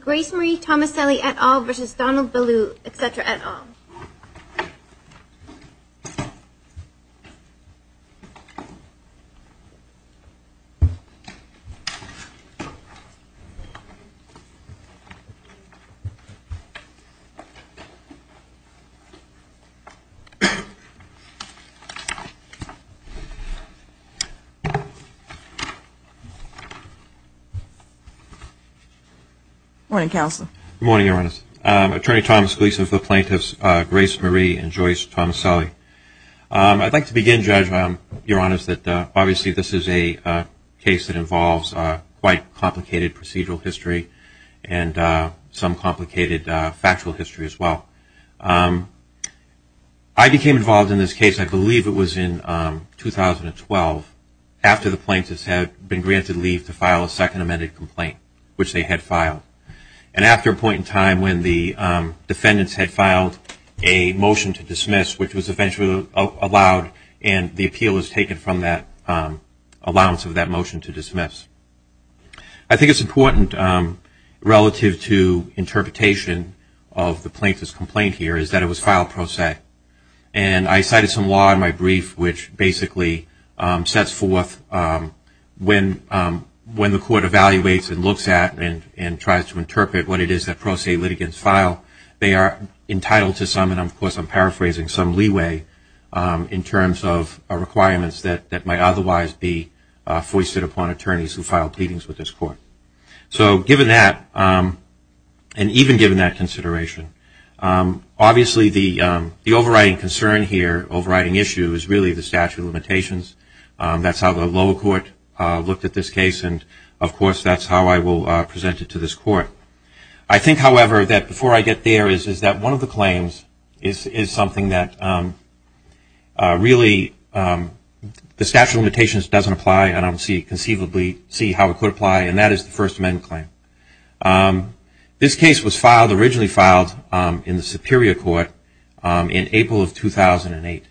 Grace Marie Tomaselli et al. v. Donald Beaulieu, etc. et al. Attorney Thomas Gleason for the Plaintiffs Grace Marie and Joyce Tomaselli. I'd like to begin, Judge, Your Honors, that obviously this is a case that involves quite complicated procedural history and some complicated factual history as well. I became involved in this case, I believe it was in 2012, after the plaintiffs had been granted leave to file a second amended complaint, which they had filed. And after a point in time when the defendants had filed a motion to dismiss, which was eventually allowed, and the appeal was taken from that allowance of that motion to dismiss. I think it's important, relative to interpretation of the plaintiff's complaint here, is that it was filed pro se. And I cited some law in my brief which basically sets forth when the court evaluates and looks at and tries to interpret what it is that pro se litigants file, they are entitled to some, and of course I'm paraphrasing, some leeway in terms of requirements that might otherwise be foisted upon attorneys who file pleadings with this court. So given that, and even given that consideration, obviously the overriding concern here, overriding issue, is really the statute of limitations. That's how the lower court looked at this case, and of course that's how I will present it to this court. I think, however, that before I get there, is that one of the claims is something that really the statute of limitations doesn't apply, and I don't conceivably see how it could apply, and that is the First Amendment claim. This case was filed, originally filed, in the Superior Court in April of 2008.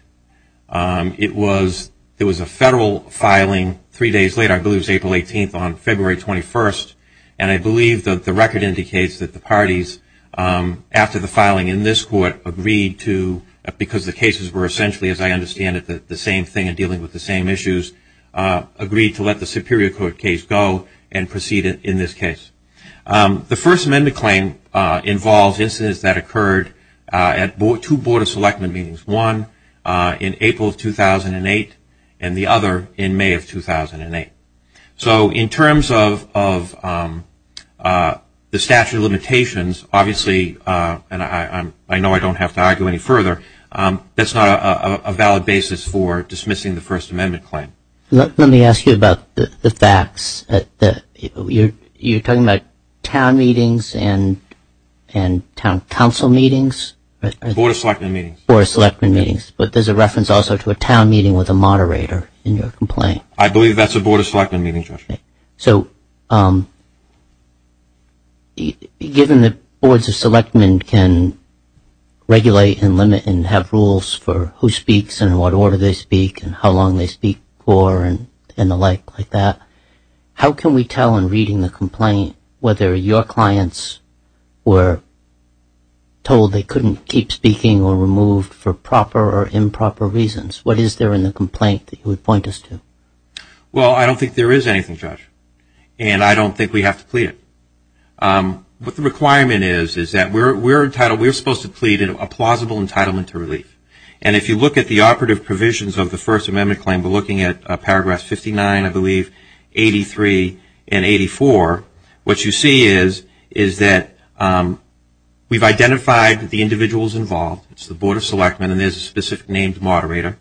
It was a federal filing three days later, I believe it was April 18th on February 21st, and I believe that the record indicates that the parties, after the filing in this court, agreed to, because the cases were essentially, as I understand it, the same thing and dealing with the same issues, agreed to let the Superior Court case go and proceed in this case. The First Amendment claim involves incidents that occurred at two Board of Selectment meetings, one in April of 2008 and the other in May of 2008. So in terms of the statute of limitations, obviously, and I know I don't have to argue any further, that's not a valid basis for dismissing the First Amendment claim. Let me ask you about the facts. You're talking about town meetings and town council meetings? Board of Selectman meetings. Board of Selectman meetings, but there's a reference also to a town meeting with a moderator in your complaint. I believe that's a Board of Selectman meeting, Judge. So given that Boards of Selectman can regulate and limit and have rules for who speaks and in what order they speak and how long they speak for and the like like that, how can we tell in reading the complaint whether your clients were told they couldn't keep speaking or removed for proper or improper reasons? What is there in the complaint that you would point us to? Well, I don't think there is anything, Judge, and I don't think we have to plead it. What the requirement is is that we're supposed to plead a plausible entitlement to relief. And if you look at the operative provisions of the First Amendment claim, we're looking at paragraphs 59, I believe, 83, and 84. What you see is that we've identified the individuals involved. It's the Board of Selectman and there's a specific named moderator.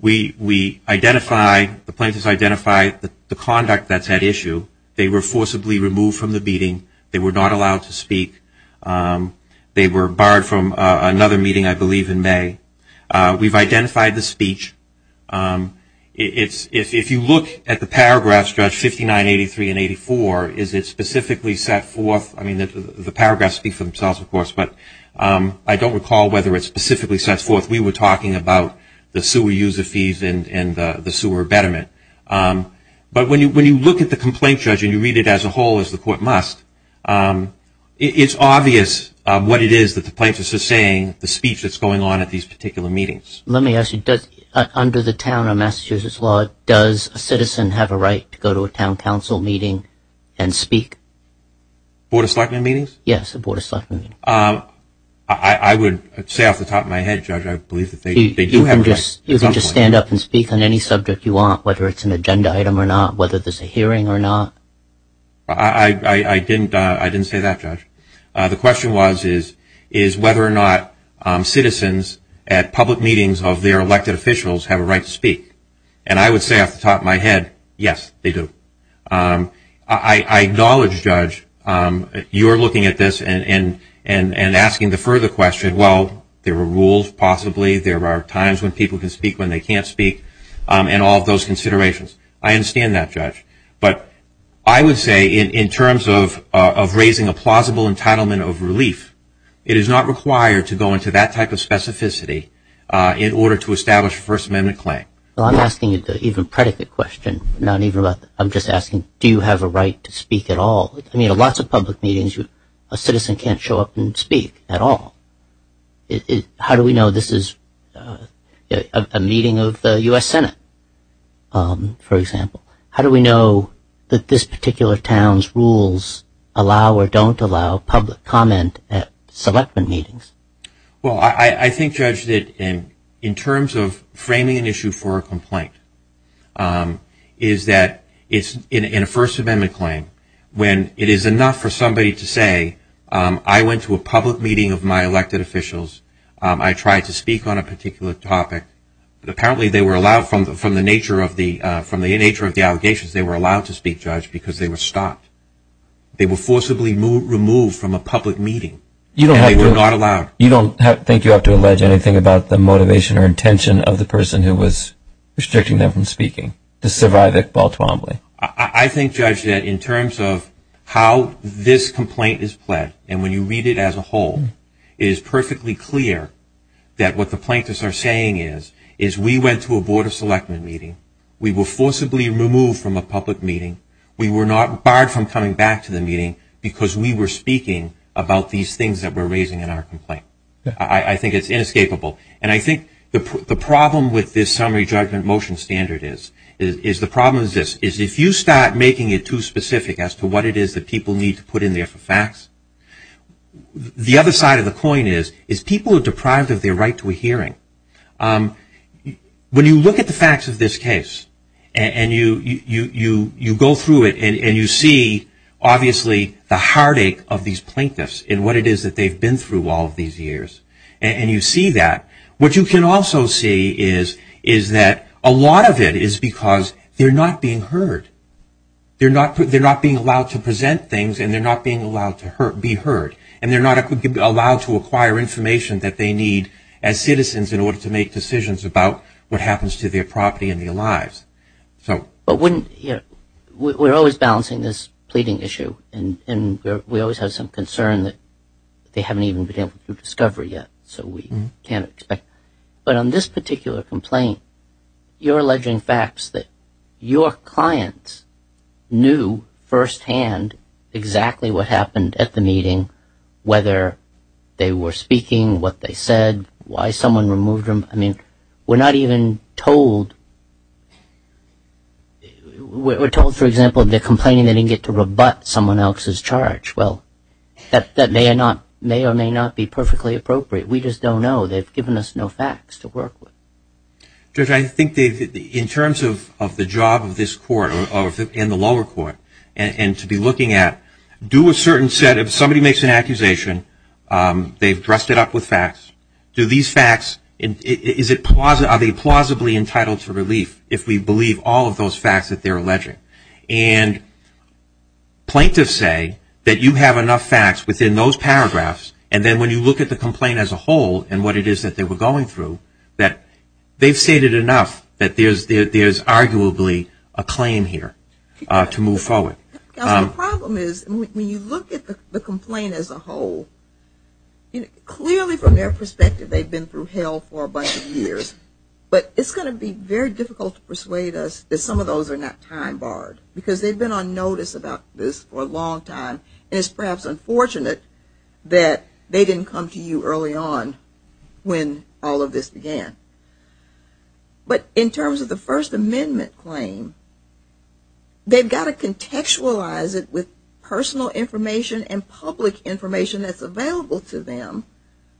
We identify, the plaintiffs identify the conduct that's at issue. They were forcibly removed from the meeting. They were not allowed to speak. They were barred from another meeting, I believe, in May. We've identified the speech. If you look at the paragraphs, Judge, 59, 83, and 84, is it specifically set forth? I mean, the paragraphs speak for themselves, of course, but I don't recall whether it specifically sets forth. We were talking about the sewer user fees and the sewer betterment. But when you look at the complaint, Judge, and you read it as a whole as the court must, it's obvious what it is that the plaintiffs are saying, the speech that's going on at these particular meetings. Let me ask you, under the town of Massachusetts law, does a citizen have a right to go to a town council meeting and speak? Board of Selectman meetings? Yes, a Board of Selectman meeting. I would say off the top of my head, Judge, I believe that they do have a right. You can just stand up and speak on any subject you want, whether it's an agenda item or not, whether there's a hearing or not. I didn't say that, Judge. The question was, is whether or not citizens at public meetings of their elected officials have a right to speak? And I would say off the top of my head, yes, they do. I acknowledge, Judge, you're looking at this and asking the further question, well, there are rules, possibly. There are times when people can speak when they can't speak, and all of those considerations. I understand that, Judge. But I would say in terms of raising a plausible entitlement of relief, it is not required to go into that type of specificity in order to establish a First Amendment claim. Well, I'm asking an even predicate question, not even about that. I'm just asking, do you have a right to speak at all? I mean, at lots of public meetings, a citizen can't show up and speak at all. How do we know this is a meeting of the U.S. Senate, for example? How do we know that this particular town's rules allow or don't allow public comment at select meetings? Well, I think, Judge, that in terms of framing an issue for a complaint, is that in a First Amendment claim, when it is enough for somebody to say, I went to a public meeting of my elected officials, I tried to speak on a particular topic, apparently they were allowed, from the nature of the allegations, they were allowed to speak, Judge, because they were stopped. They were forcibly removed from a public meeting, and they were not allowed. You don't think you have to allege anything about the motivation or intention of the person who was restricting them from speaking to survive at Baltimore? I think, Judge, that in terms of how this complaint is pled, and when you read it as a whole, it is perfectly clear that what the plaintiffs are saying is, is we went to a Board of Selectment meeting, we were forcibly removed from a public meeting, we were not barred from coming back to the meeting because we were speaking about these things that we're raising in our complaint. I think it's inescapable. And I think the problem with this summary judgment motion standard is, is the problem is this, is if you start making it too specific as to what it is that people need to put in there for facts, the other side of the coin is, is people are deprived of their right to a hearing. When you look at the facts of this case, and you go through it, and you see obviously the heartache of these plaintiffs and what it is that they've been through all of these years, and you see that, what you can also see is that a lot of it is because they're not being heard. They're not being allowed to present things, and they're not being allowed to be heard. And they're not allowed to acquire information that they need as citizens in order to make decisions about what happens to their property and their lives. But we're always balancing this pleading issue, and we always have some concern that they haven't even been able to do discovery yet, so we can't expect. But on this particular complaint, you're alleging facts that your clients knew firsthand exactly what happened at the meeting, whether they were speaking, what they said, why someone removed them. I mean, we're not even told, we're told, for example, they're complaining they didn't get to rebut someone else's charge. Well, that may or may not be perfectly appropriate. We just don't know. They've given us no facts to work with. Judge, I think in terms of the job of this court and the lower court, and to be looking at do a certain set of somebody makes an accusation, they've dressed it up with facts. Do these facts, are they plausibly entitled to relief if we believe all of those facts that they're alleging? And plaintiffs say that you have enough facts within those paragraphs, and then when you look at the complaint as a whole and what it is that they were going through, that they've stated enough that there's arguably a claim here to move forward. Counsel, the problem is when you look at the complaint as a whole, clearly from their perspective they've been through hell for a bunch of years, but it's going to be very difficult to persuade us that some of those are not time-barred, because they've been on notice about this for a long time, and it's perhaps unfortunate that they didn't come to you early on when all of this began. But in terms of the First Amendment claim, they've got to contextualize it with personal information and public information that's available to them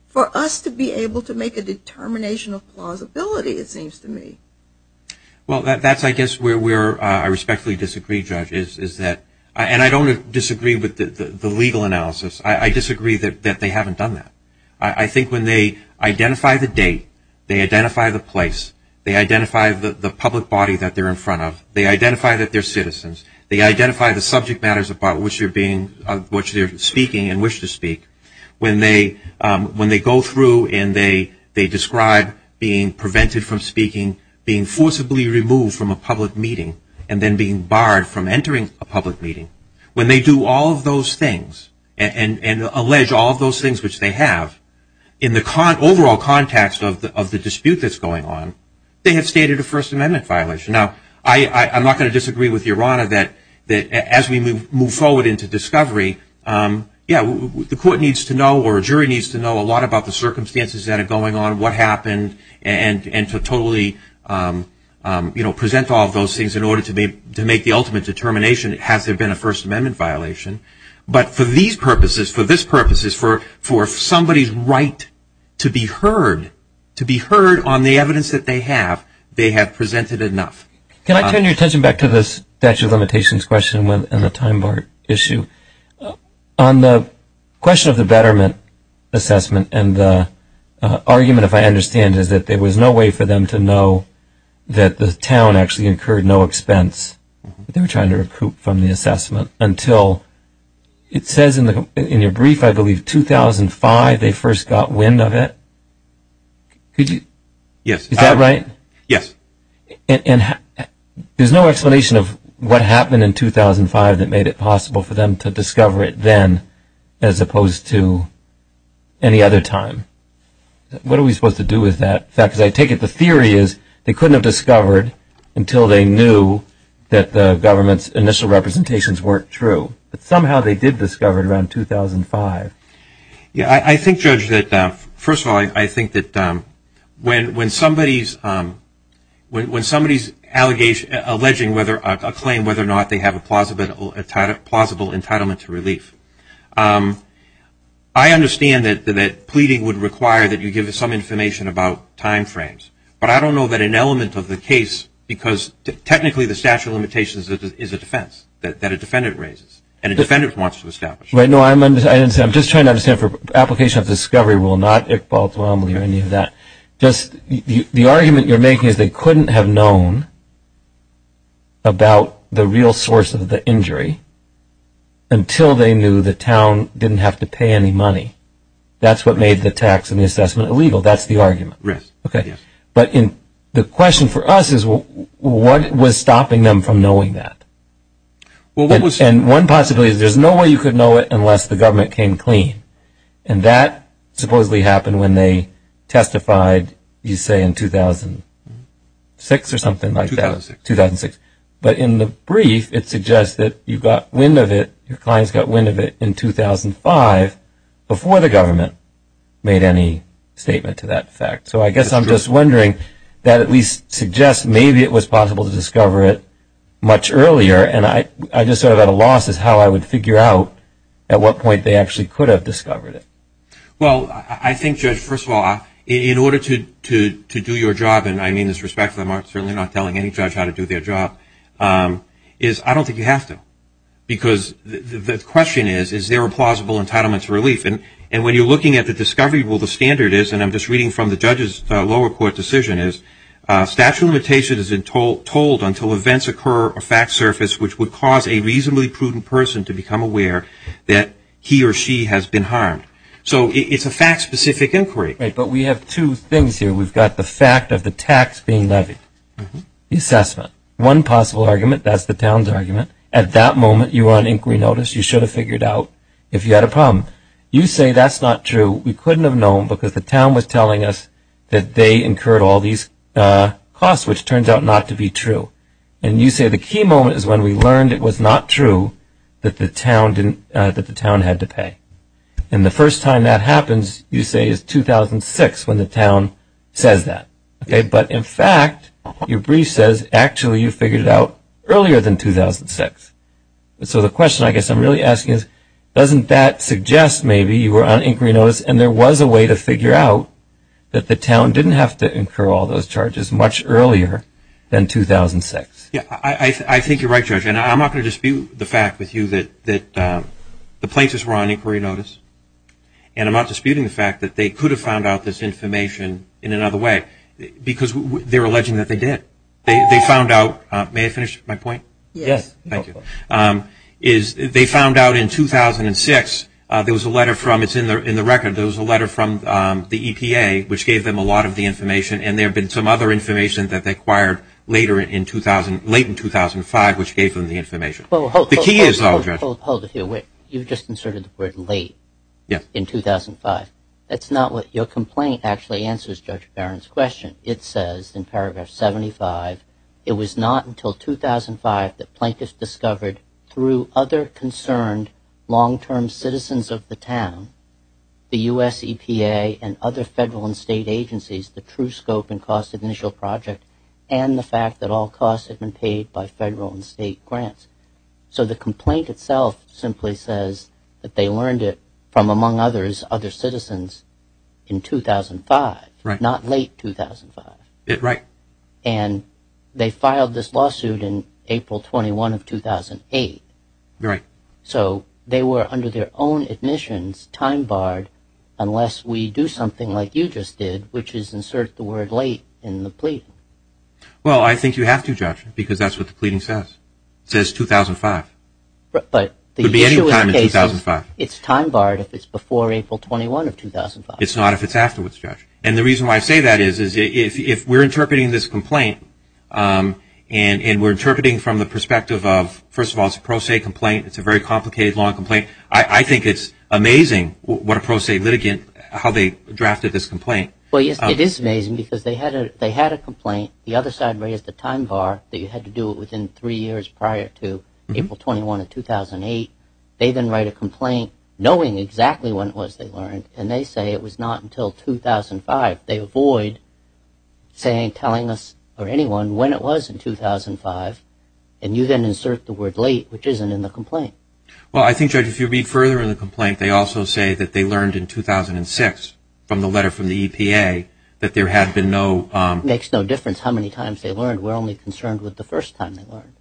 for us to be able to make a determination of plausibility, it seems to me. Well, that's, I guess, where I respectfully disagree, Judge. And I don't disagree with the legal analysis. I disagree that they haven't done that. I think when they identify the date, they identify the place, they identify the public body that they're in front of, they identify that they're citizens, they identify the subject matters about which they're speaking and wish to speak, when they go through and they describe being prevented from speaking, being forcibly removed from a public meeting, and then being barred from entering a public meeting, when they do all of those things and allege all of those things which they have, in the overall context of the dispute that's going on, they have stated a First Amendment violation. Now, I'm not going to disagree with Your Honor that as we move forward into discovery, yeah, the court needs to know or a jury needs to know a lot about the circumstances that are going on, what happened, and to totally, you know, present all of those things in order to make the ultimate determination, has there been a First Amendment violation. But for these purposes, for this purposes, for somebody's right to be heard, to be heard on the evidence that they have, they have presented enough. Can I turn your attention back to this statute of limitations question and the time bar issue? On the question of the betterment assessment and the argument, if I understand, is that there was no way for them to know that the town actually incurred no expense. They were trying to recoup from the assessment until it says in your brief, I believe, 2005, they first got wind of it. Could you? Yes. Is that right? Yes. And there's no explanation of what happened in 2005 that made it possible for them to discover it then, as opposed to any other time. What are we supposed to do with that? Because I take it the theory is they couldn't have discovered until they knew that the government's initial representations weren't true. But somehow they did discover it around 2005. I think, Judge, that first of all, I think that when somebody's alleging whether or not they have a plausible entitlement to relief, I understand that pleading would require that you give us some information about time frames. But I don't know that an element of the case, because technically the statute of limitations is a defense that a defendant raises and a defendant wants to establish. Right. No, I'm just trying to understand for application of the discovery rule, not Iqbal Tuamli or any of that. Just the argument you're making is they couldn't have known about the real source of the injury until they knew the town didn't have to pay any money. That's what made the tax and the assessment illegal. That's the argument. Right. Okay. But the question for us is what was stopping them from knowing that? And one possibility is there's no way you could know it unless the government came clean. And that supposedly happened when they testified, you say, in 2006 or something like that. 2006. 2006. But in the brief, it suggests that you got wind of it, your clients got wind of it in 2005, before the government made any statement to that effect. So I guess I'm just wondering that at least suggests maybe it was possible to discover it much earlier, and I just sort of at a loss as how I would figure out at what point they actually could have discovered it. Well, I think, Judge, first of all, in order to do your job, and I mean this respectfully, I'm certainly not telling any judge how to do their job, is I don't think you have to. Because the question is, is there a plausible entitlement to relief? And when you're looking at the discovery rule, the standard is, and I'm just reading from the judge's lower court decision, is statute of limitations is told until events occur or facts surface, which would cause a reasonably prudent person to become aware that he or she has been harmed. So it's a fact-specific inquiry. Right. But we have two things here. We've got the fact of the tax being levied, the assessment. One possible argument, that's the town's argument. At that moment, you are on inquiry notice. You should have figured out if you had a problem. You say that's not true. We couldn't have known because the town was telling us that they incurred all these costs, which turns out not to be true. And you say the key moment is when we learned it was not true that the town had to pay. And the first time that happens, you say, is 2006 when the town says that. But, in fact, your brief says, actually, you figured it out earlier than 2006. So the question I guess I'm really asking is, doesn't that suggest maybe you were on inquiry notice and there was a way to figure out that the town didn't have to incur all those charges much earlier than 2006? Yeah, I think you're right, Judge, and I'm not going to dispute the fact with you that the plaintiffs were on inquiry notice, and I'm not disputing the fact that they could have found out this information in another way because they're alleging that they did. They found out, may I finish my point? Yes. Thank you. They found out in 2006, there was a letter from, it's in the record, there was a letter from the EPA which gave them a lot of the information and there had been some other information that they acquired late in 2005 which gave them the information. Hold it here. Wait. You just inserted the word late in 2005. That's not what, your complaint actually answers Judge Barron's question. It says in paragraph 75, it was not until 2005 that plaintiffs discovered through other concerned long-term citizens of the town, the U.S. EPA and other federal and state agencies, the true scope and cost of initial project and the fact that all costs had been paid by federal and state grants. So the complaint itself simply says that they learned it from, among others, other citizens in 2005. Right. Not late 2005. Right. And they filed this lawsuit in April 21 of 2008. Right. So they were under their own admissions time barred unless we do something like you just did which is insert the word late in the plea. Well, I think you have to, Judge, because that's what the pleading says. It says 2005. But the issue is it's time barred if it's before April 21 of 2005. It's not if it's afterwards, Judge. And the reason why I say that is if we're interpreting this complaint and we're interpreting from the perspective of, first of all, it's a pro se complaint, it's a very complicated law complaint, I think it's amazing what a pro se litigant, how they drafted this complaint. Well, yes, it is amazing because they had a complaint. The other side raised the time bar that you had to do it within three years prior to April 21 of 2008. They then write a complaint knowing exactly when it was they learned, and they say it was not until 2005. They avoid telling us or anyone when it was in 2005, Well, I think, Judge, if you read further in the complaint, they also say that they learned in 2006 from the letter from the EPA that there had been no ‑‑ It makes no difference how many times they learned. We're only concerned with the first time they learned.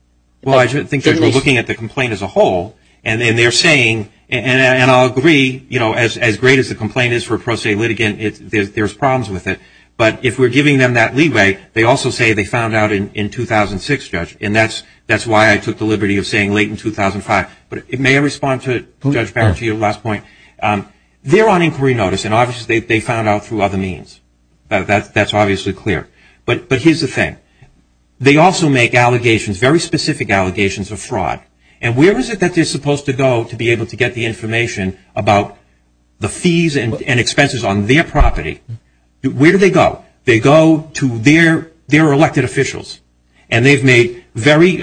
Well, I think, Judge, we're looking at the complaint as a whole, and they're saying, and I'll agree, you know, as great as the complaint is for a pro se litigant, there's problems with it. But if we're giving them that leeway, they also say they found out in 2006, Judge, and that's why I took the liberty of saying late in 2005. But may I respond to Judge Barrett to your last point? They're on inquiry notice, and obviously they found out through other means. That's obviously clear. But here's the thing. They also make allegations, very specific allegations of fraud. And where is it that they're supposed to go to be able to get the information about the fees and expenses on their property? Where do they go? They go to their elected officials. And they've made very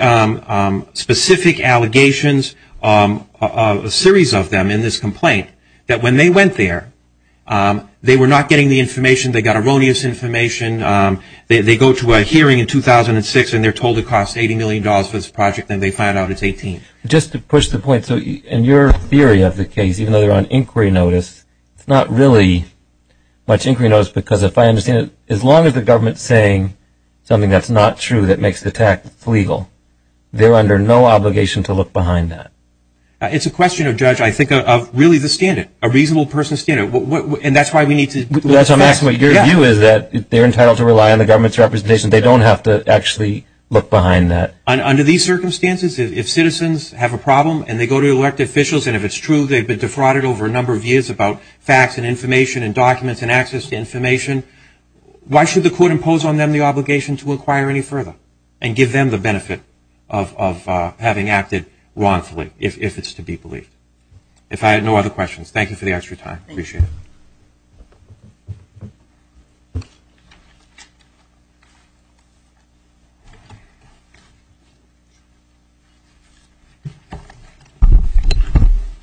specific allegations, a series of them in this complaint, that when they went there, they were not getting the information. They got erroneous information. They go to a hearing in 2006, and they're told it costs $80 million for this project, and they find out it's $18 million. Just to push the point, so in your theory of the case, even though they're on inquiry notice, it's not really much inquiry notice because, if I understand it, as long as the government is saying something that's not true that makes the tax legal, they're under no obligation to look behind that. It's a question, Judge, I think, of really the standard, a reasonable person's standard. And that's why we need to look back. I'm asking what your view is that they're entitled to rely on the government's representation. They don't have to actually look behind that. Under these circumstances, if citizens have a problem and they go to elected officials, and if it's true they've been defrauded over a number of years about facts and information and documents and access to information, why should the court impose on them the obligation to inquire any further and give them the benefit of having acted wrongfully, if it's to be believed? If I have no other questions, thank you for the extra time. Thank you.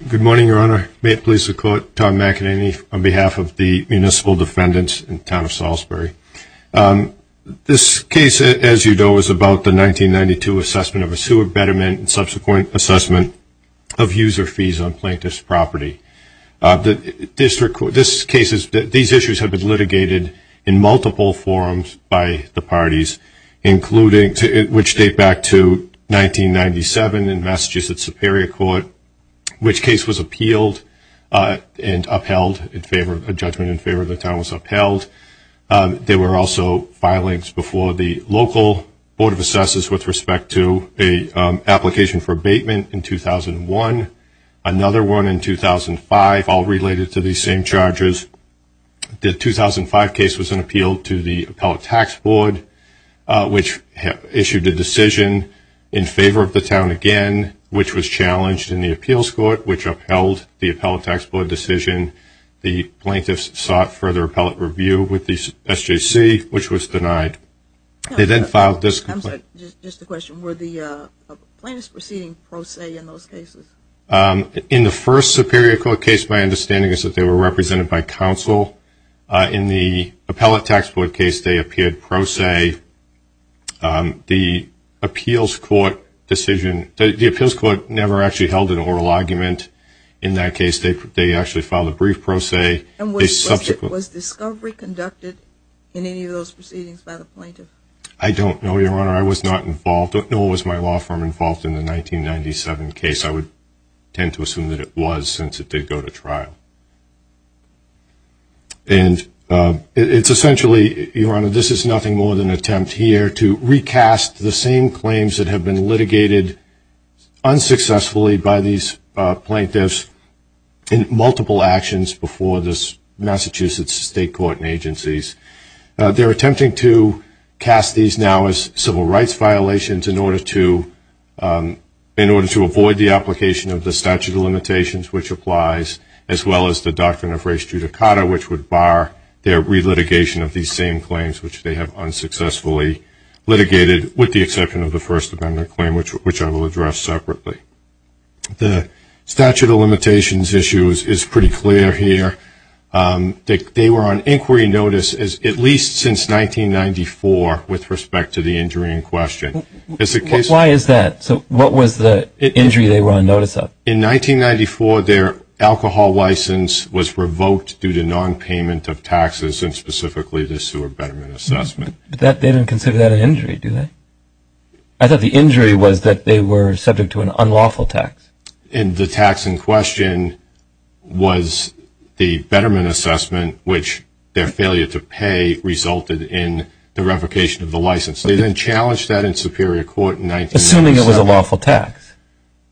Good morning, Your Honor. May it please the Court, Tom McEnany on behalf of the municipal defendants in the town of Salisbury. This case, as you know, is about the 1992 assessment of a sewer betterment and subsequent assessment of user fees on plaintiff's property. These issues have been litigated in multiple forums by the parties, which date back to 1997 in messages at Superior Court, which case was appealed and upheld, a judgment in favor of the town was upheld. There were also filings before the local Board of Assessors with respect to an application for abatement in 2001, another one in 2005, all related to these same charges. The 2005 case was an appeal to the Appellate Tax Board, which issued a decision in favor of the town again, which was challenged in the Appeals Court, which upheld the Appellate Tax Board decision. The plaintiffs sought further appellate review with the SJC, which was denied. They then filed this complaint. I'm sorry, just a question. Were the plaintiffs proceeding pro se in those cases? In the first Superior Court case, my understanding is that they were represented by counsel. In the Appellate Tax Board case, they appeared pro se. The Appeals Court decision, the Appeals Court never actually held an oral argument in that case. They actually filed a brief pro se. And was discovery conducted in any of those proceedings by the plaintiff? I don't know, Your Honor. I was not involved. Nor was my law firm involved in the 1997 case. I would tend to assume that it was since it did go to trial. And it's essentially, Your Honor, this is nothing more than an attempt here to recast the same claims that have been litigated unsuccessfully by these plaintiffs in multiple actions before the Massachusetts State Court and agencies. They're attempting to cast these now as civil rights violations in order to avoid the application of the statute of limitations, which applies, as well as the doctrine of res judicata, which would bar their relitigation of these same claims, which they have unsuccessfully litigated with the exception of the First Amendment claim, which I will address separately. The statute of limitations issue is pretty clear here. They were on inquiry notice at least since 1994 with respect to the injury in question. Why is that? So what was the injury they were on notice of? In 1994, their alcohol license was revoked due to nonpayment of taxes, and specifically the sewer betterment assessment. But they didn't consider that an injury, did they? I thought the injury was that they were subject to an unlawful tax. And the tax in question was the betterment assessment, which their failure to pay resulted in the revocation of the license. They then challenged that in Superior Court in 1997. Assuming it was a lawful tax.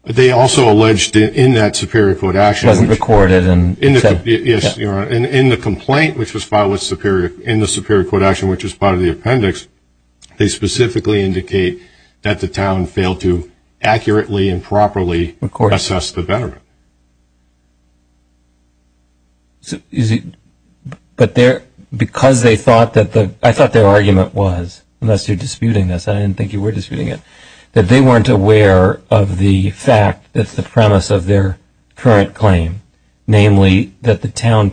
They also alleged in that Superior Court action. It wasn't recorded. Yes, Your Honor. In the complaint which was filed in the Superior Court action, which was part of the appendix, they specifically indicate that the town failed to accurately and properly assess the betterment. But because they thought that the – I thought their argument was, unless you're disputing this, I didn't think you were disputing it, that they weren't aware of the fact that's the premise of their current claim, namely that the town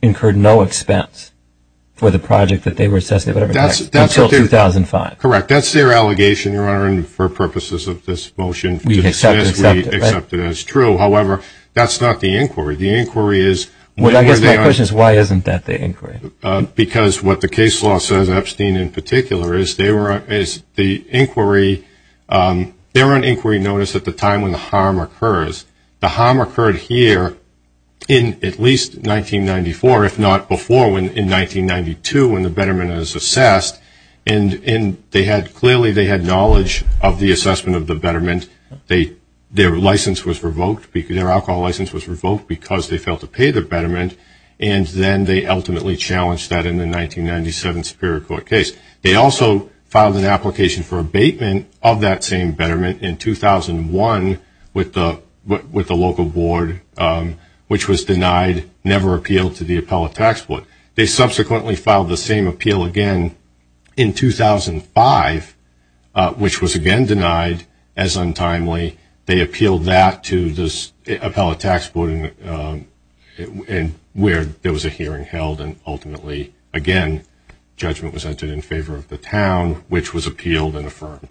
incurred no expense for the project that they were assessing, whatever the tax, until 2005. That's their allegation, Your Honor, and for purposes of this motion, we accept it as true. However, that's not the inquiry. The inquiry is – I guess my question is why isn't that the inquiry? Because what the case law says, Epstein in particular, is they were on inquiry notice at the time when the harm occurs. The harm occurred here in at least 1994, if not before, in 1992, when the betterment is assessed, and clearly they had knowledge of the assessment of the betterment. Their license was revoked. Their alcohol license was revoked because they failed to pay the betterment, and then they ultimately challenged that in the 1997 Superior Court case. They also filed an application for abatement of that same betterment in 2001 with the local board, which was denied, never appealed to the appellate tax board. They subsequently filed the same appeal again in 2005, which was again denied as untimely. They appealed that to the appellate tax board where there was a hearing held, and ultimately, again, judgment was entered in favor of the town, which was appealed and affirmed.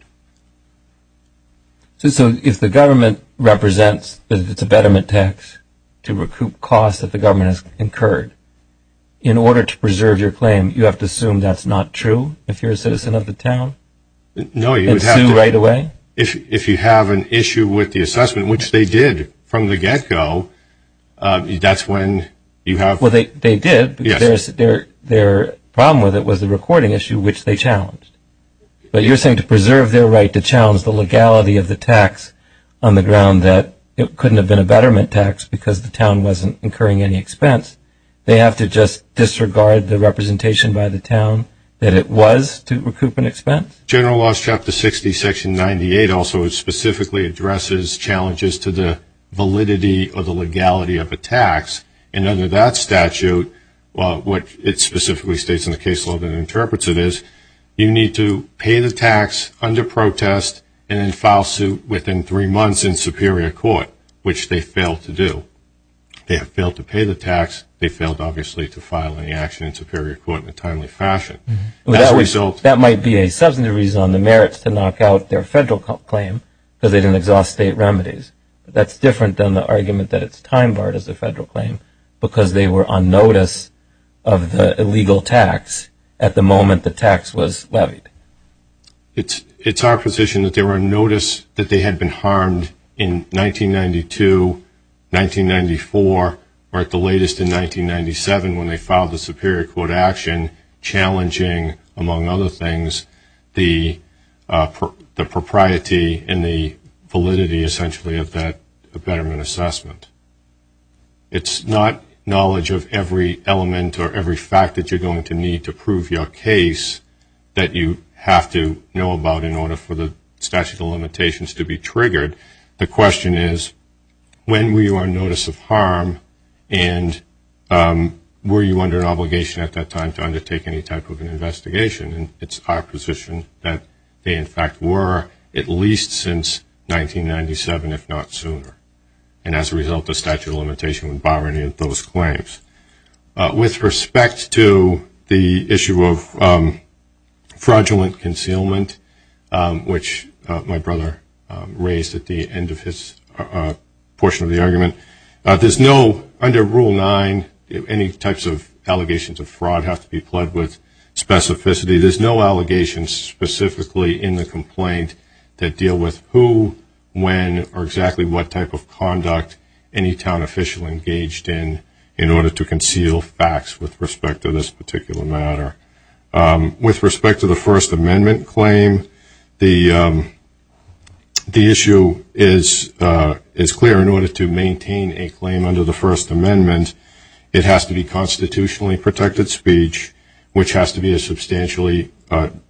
So if the government represents that it's a betterment tax to recoup costs that the government has incurred, in order to preserve your claim, you have to assume that's not true if you're a citizen of the town? No, you would have to – And sue right away? If you have an issue with the assessment, which they did from the get-go, that's when you have – Well, they did because their problem with it was the recording issue, which they challenged. But you're saying to preserve their right to challenge the legality of the tax on the ground that it couldn't have been a betterment tax because the town wasn't incurring any expense, they have to just disregard the representation by the town that it was to recoup an expense? General Laws, Chapter 60, Section 98, also specifically addresses challenges to the validity or the legality of a tax, and under that statute, what it specifically states in the case law that interprets it is you need to pay the tax under protest and then file suit within three months in superior court, which they failed to do. They have failed to pay the tax. They failed, obviously, to file any action in superior court in a timely fashion. As a result – That might be a substantive reason on the merits to knock out their federal claim because they didn't exhaust state remedies. That's different than the argument that it's time barred as a federal claim because they were on notice of the illegal tax at the moment the tax was levied. It's our position that they were on notice that they had been harmed in 1992, 1994, or at the latest in 1997 when they filed the superior court action, challenging, among other things, the propriety and the validity essentially of that betterment assessment. It's not knowledge of every element or every fact that you're going to need to prove your case that you have to know about in order for the statute of limitations to be triggered. The question is when were you on notice of harm and were you under an obligation at that time to undertake any type of an investigation? And it's our position that they, in fact, were at least since 1997, if not sooner. And as a result, the statute of limitations would bar any of those claims. With respect to the issue of fraudulent concealment, which my brother raised at the end of his portion of the argument, there's no, under Rule 9, any types of allegations of fraud have to be pled with specificity. There's no allegations specifically in the complaint that deal with who, when, or exactly what type of conduct any town official engaged in in order to conceal facts with respect to this particular matter. With respect to the First Amendment claim, the issue is clear in order to maintain a claim under the First Amendment. It has to be constitutionally protected speech, which has to be a substantially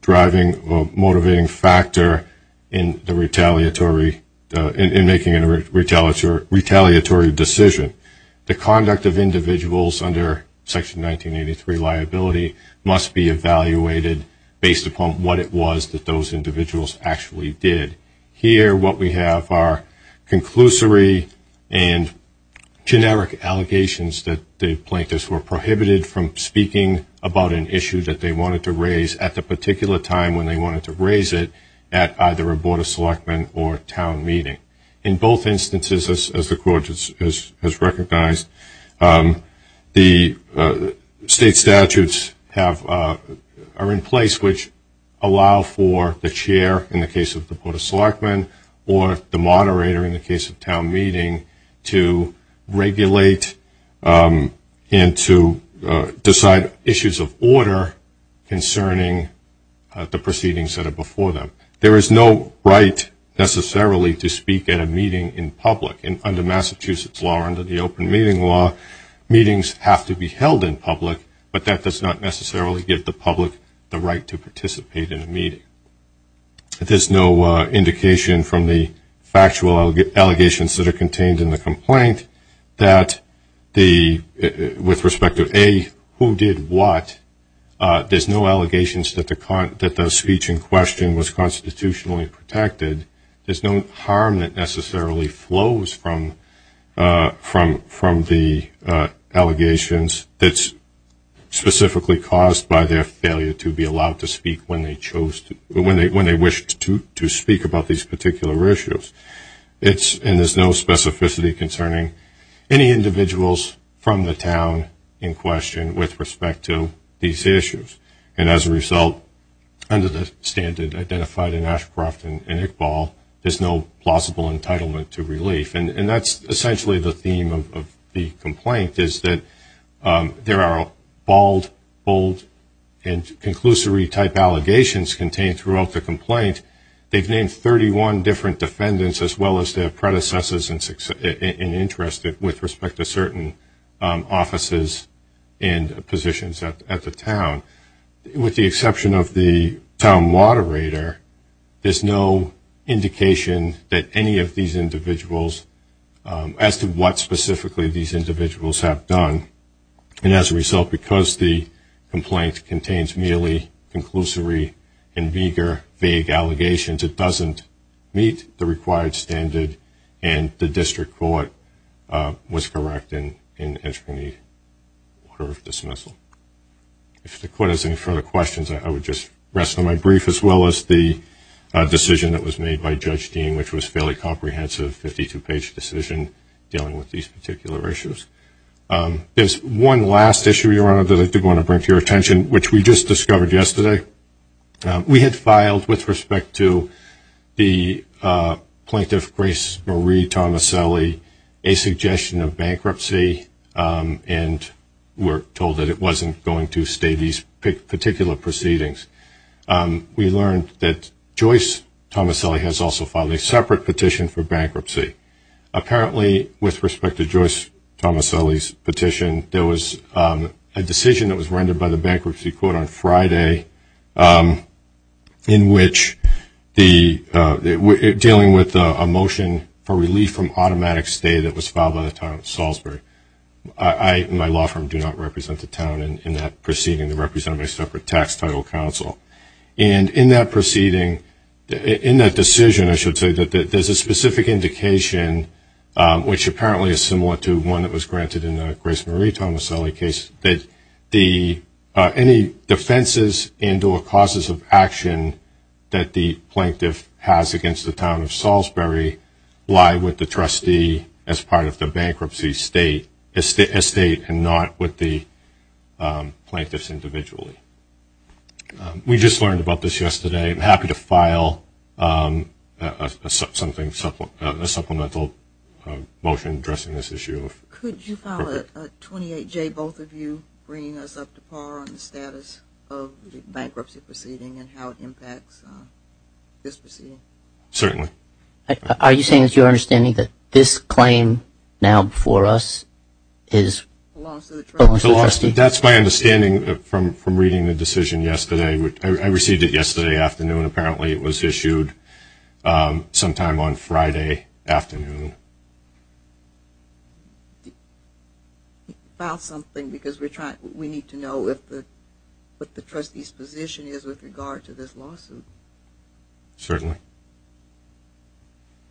driving or motivating factor in making a retaliatory decision. The conduct of individuals under Section 1983 liability must be evaluated based upon what it was that those individuals actually did. Here, what we have are conclusory and generic allegations that the plaintiffs were prohibited from speaking about an issue that they wanted to raise at the particular time when they wanted to raise it, at either a Board of Selectmen or town meeting. In both instances, as the Court has recognized, the state statutes are in place which allow for the chair, in the case of the Board of Selectmen, or the moderator, in the case of town meeting, to regulate and to decide issues of order concerning the proceedings that are before them. There is no right, necessarily, to speak at a meeting in public. Under Massachusetts law or under the open meeting law, meetings have to be held in public, but that does not necessarily give the public the right to participate in a meeting. There's no indication from the factual allegations that are contained in the complaint that, with respect to, A, who did what, there's no allegations that the speech in question was constitutionally protected. There's no harm that necessarily flows from the allegations that's specifically caused by their failure to be allowed to speak when they chose to, when they wished to speak about these particular issues. And there's no specificity concerning any individuals from the town in question with respect to these issues. And as a result, under the standard identified in Ashcroft and Iqbal, there's no plausible entitlement to relief. And that's essentially the theme of the complaint is that there are bald, bold, and conclusory type allegations contained throughout the complaint. They've named 31 different defendants as well as their predecessors in interest with respect to certain offices and positions at the town. With the exception of the town moderator, there's no indication that any of these individuals, as to what specifically these individuals have done. And as a result, because the complaint contains merely conclusory and vigor vague allegations, it doesn't meet the required standard, and the district court was correct in entering the order of dismissal. If the court has any further questions, I would just rest on my brief, as well as the decision that was made by Judge Dean, which was a fairly comprehensive 52-page decision dealing with these particular issues. There's one last issue, Your Honor, that I do want to bring to your attention, which we just discovered yesterday. We had filed with respect to the plaintiff, Grace Marie Tomaselli, a suggestion of bankruptcy, and were told that it wasn't going to stay these particular proceedings. We learned that Joyce Tomaselli has also filed a separate petition for bankruptcy. Apparently, with respect to Joyce Tomaselli's petition, there was a decision that was rendered by the bankruptcy court on Friday, in which dealing with a motion for relief from automatic stay that was filed by the town of Salisbury. I and my law firm do not represent the town in that proceeding. They represent a separate tax title counsel. And in that proceeding, in that decision, I should say, there's a specific indication, which apparently is similar to one that was granted in the Grace Marie Tomaselli case, that any defenses and or causes of action that the plaintiff has against the town of Salisbury lie with the trustee as part of the bankruptcy estate and not with the plaintiffs individually. We just learned about this yesterday. I'm happy to file a supplemental motion addressing this issue. Could you file a 28-J, both of you, bringing us up to par on the status of the bankruptcy proceeding and how it impacts this proceeding? Certainly. Are you saying it's your understanding that this claim now before us belongs to the trustee? That's my understanding from reading the decision yesterday. I received it yesterday afternoon. Apparently it was issued sometime on Friday afternoon. File something because we need to know what the trustee's position is with regard to this lawsuit. Certainly.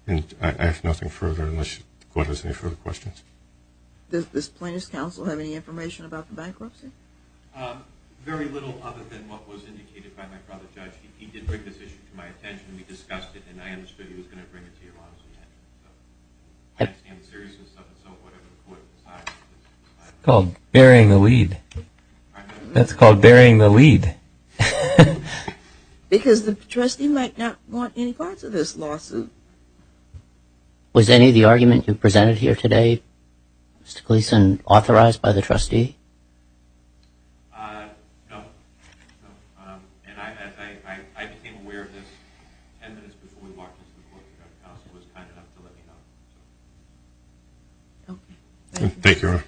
I have nothing further unless the court has any further questions. Does this plaintiff's counsel have any information about the bankruptcy? Very little other than what was indicated by my brother judge. He did bring this issue to my attention. We discussed it, and I understood he was going to bring it to your attention. I understand the seriousness of it, so whatever the court decides. It's called burying the lead. That's called burying the lead. Because the trustee might not want any parts of this lawsuit. Was any of the argument you presented here today, Mr. Gleeson, authorized by the trustee? No. And I became aware of this ten minutes before we walked into the courtroom at the house and was kind enough to let me know. Thank you.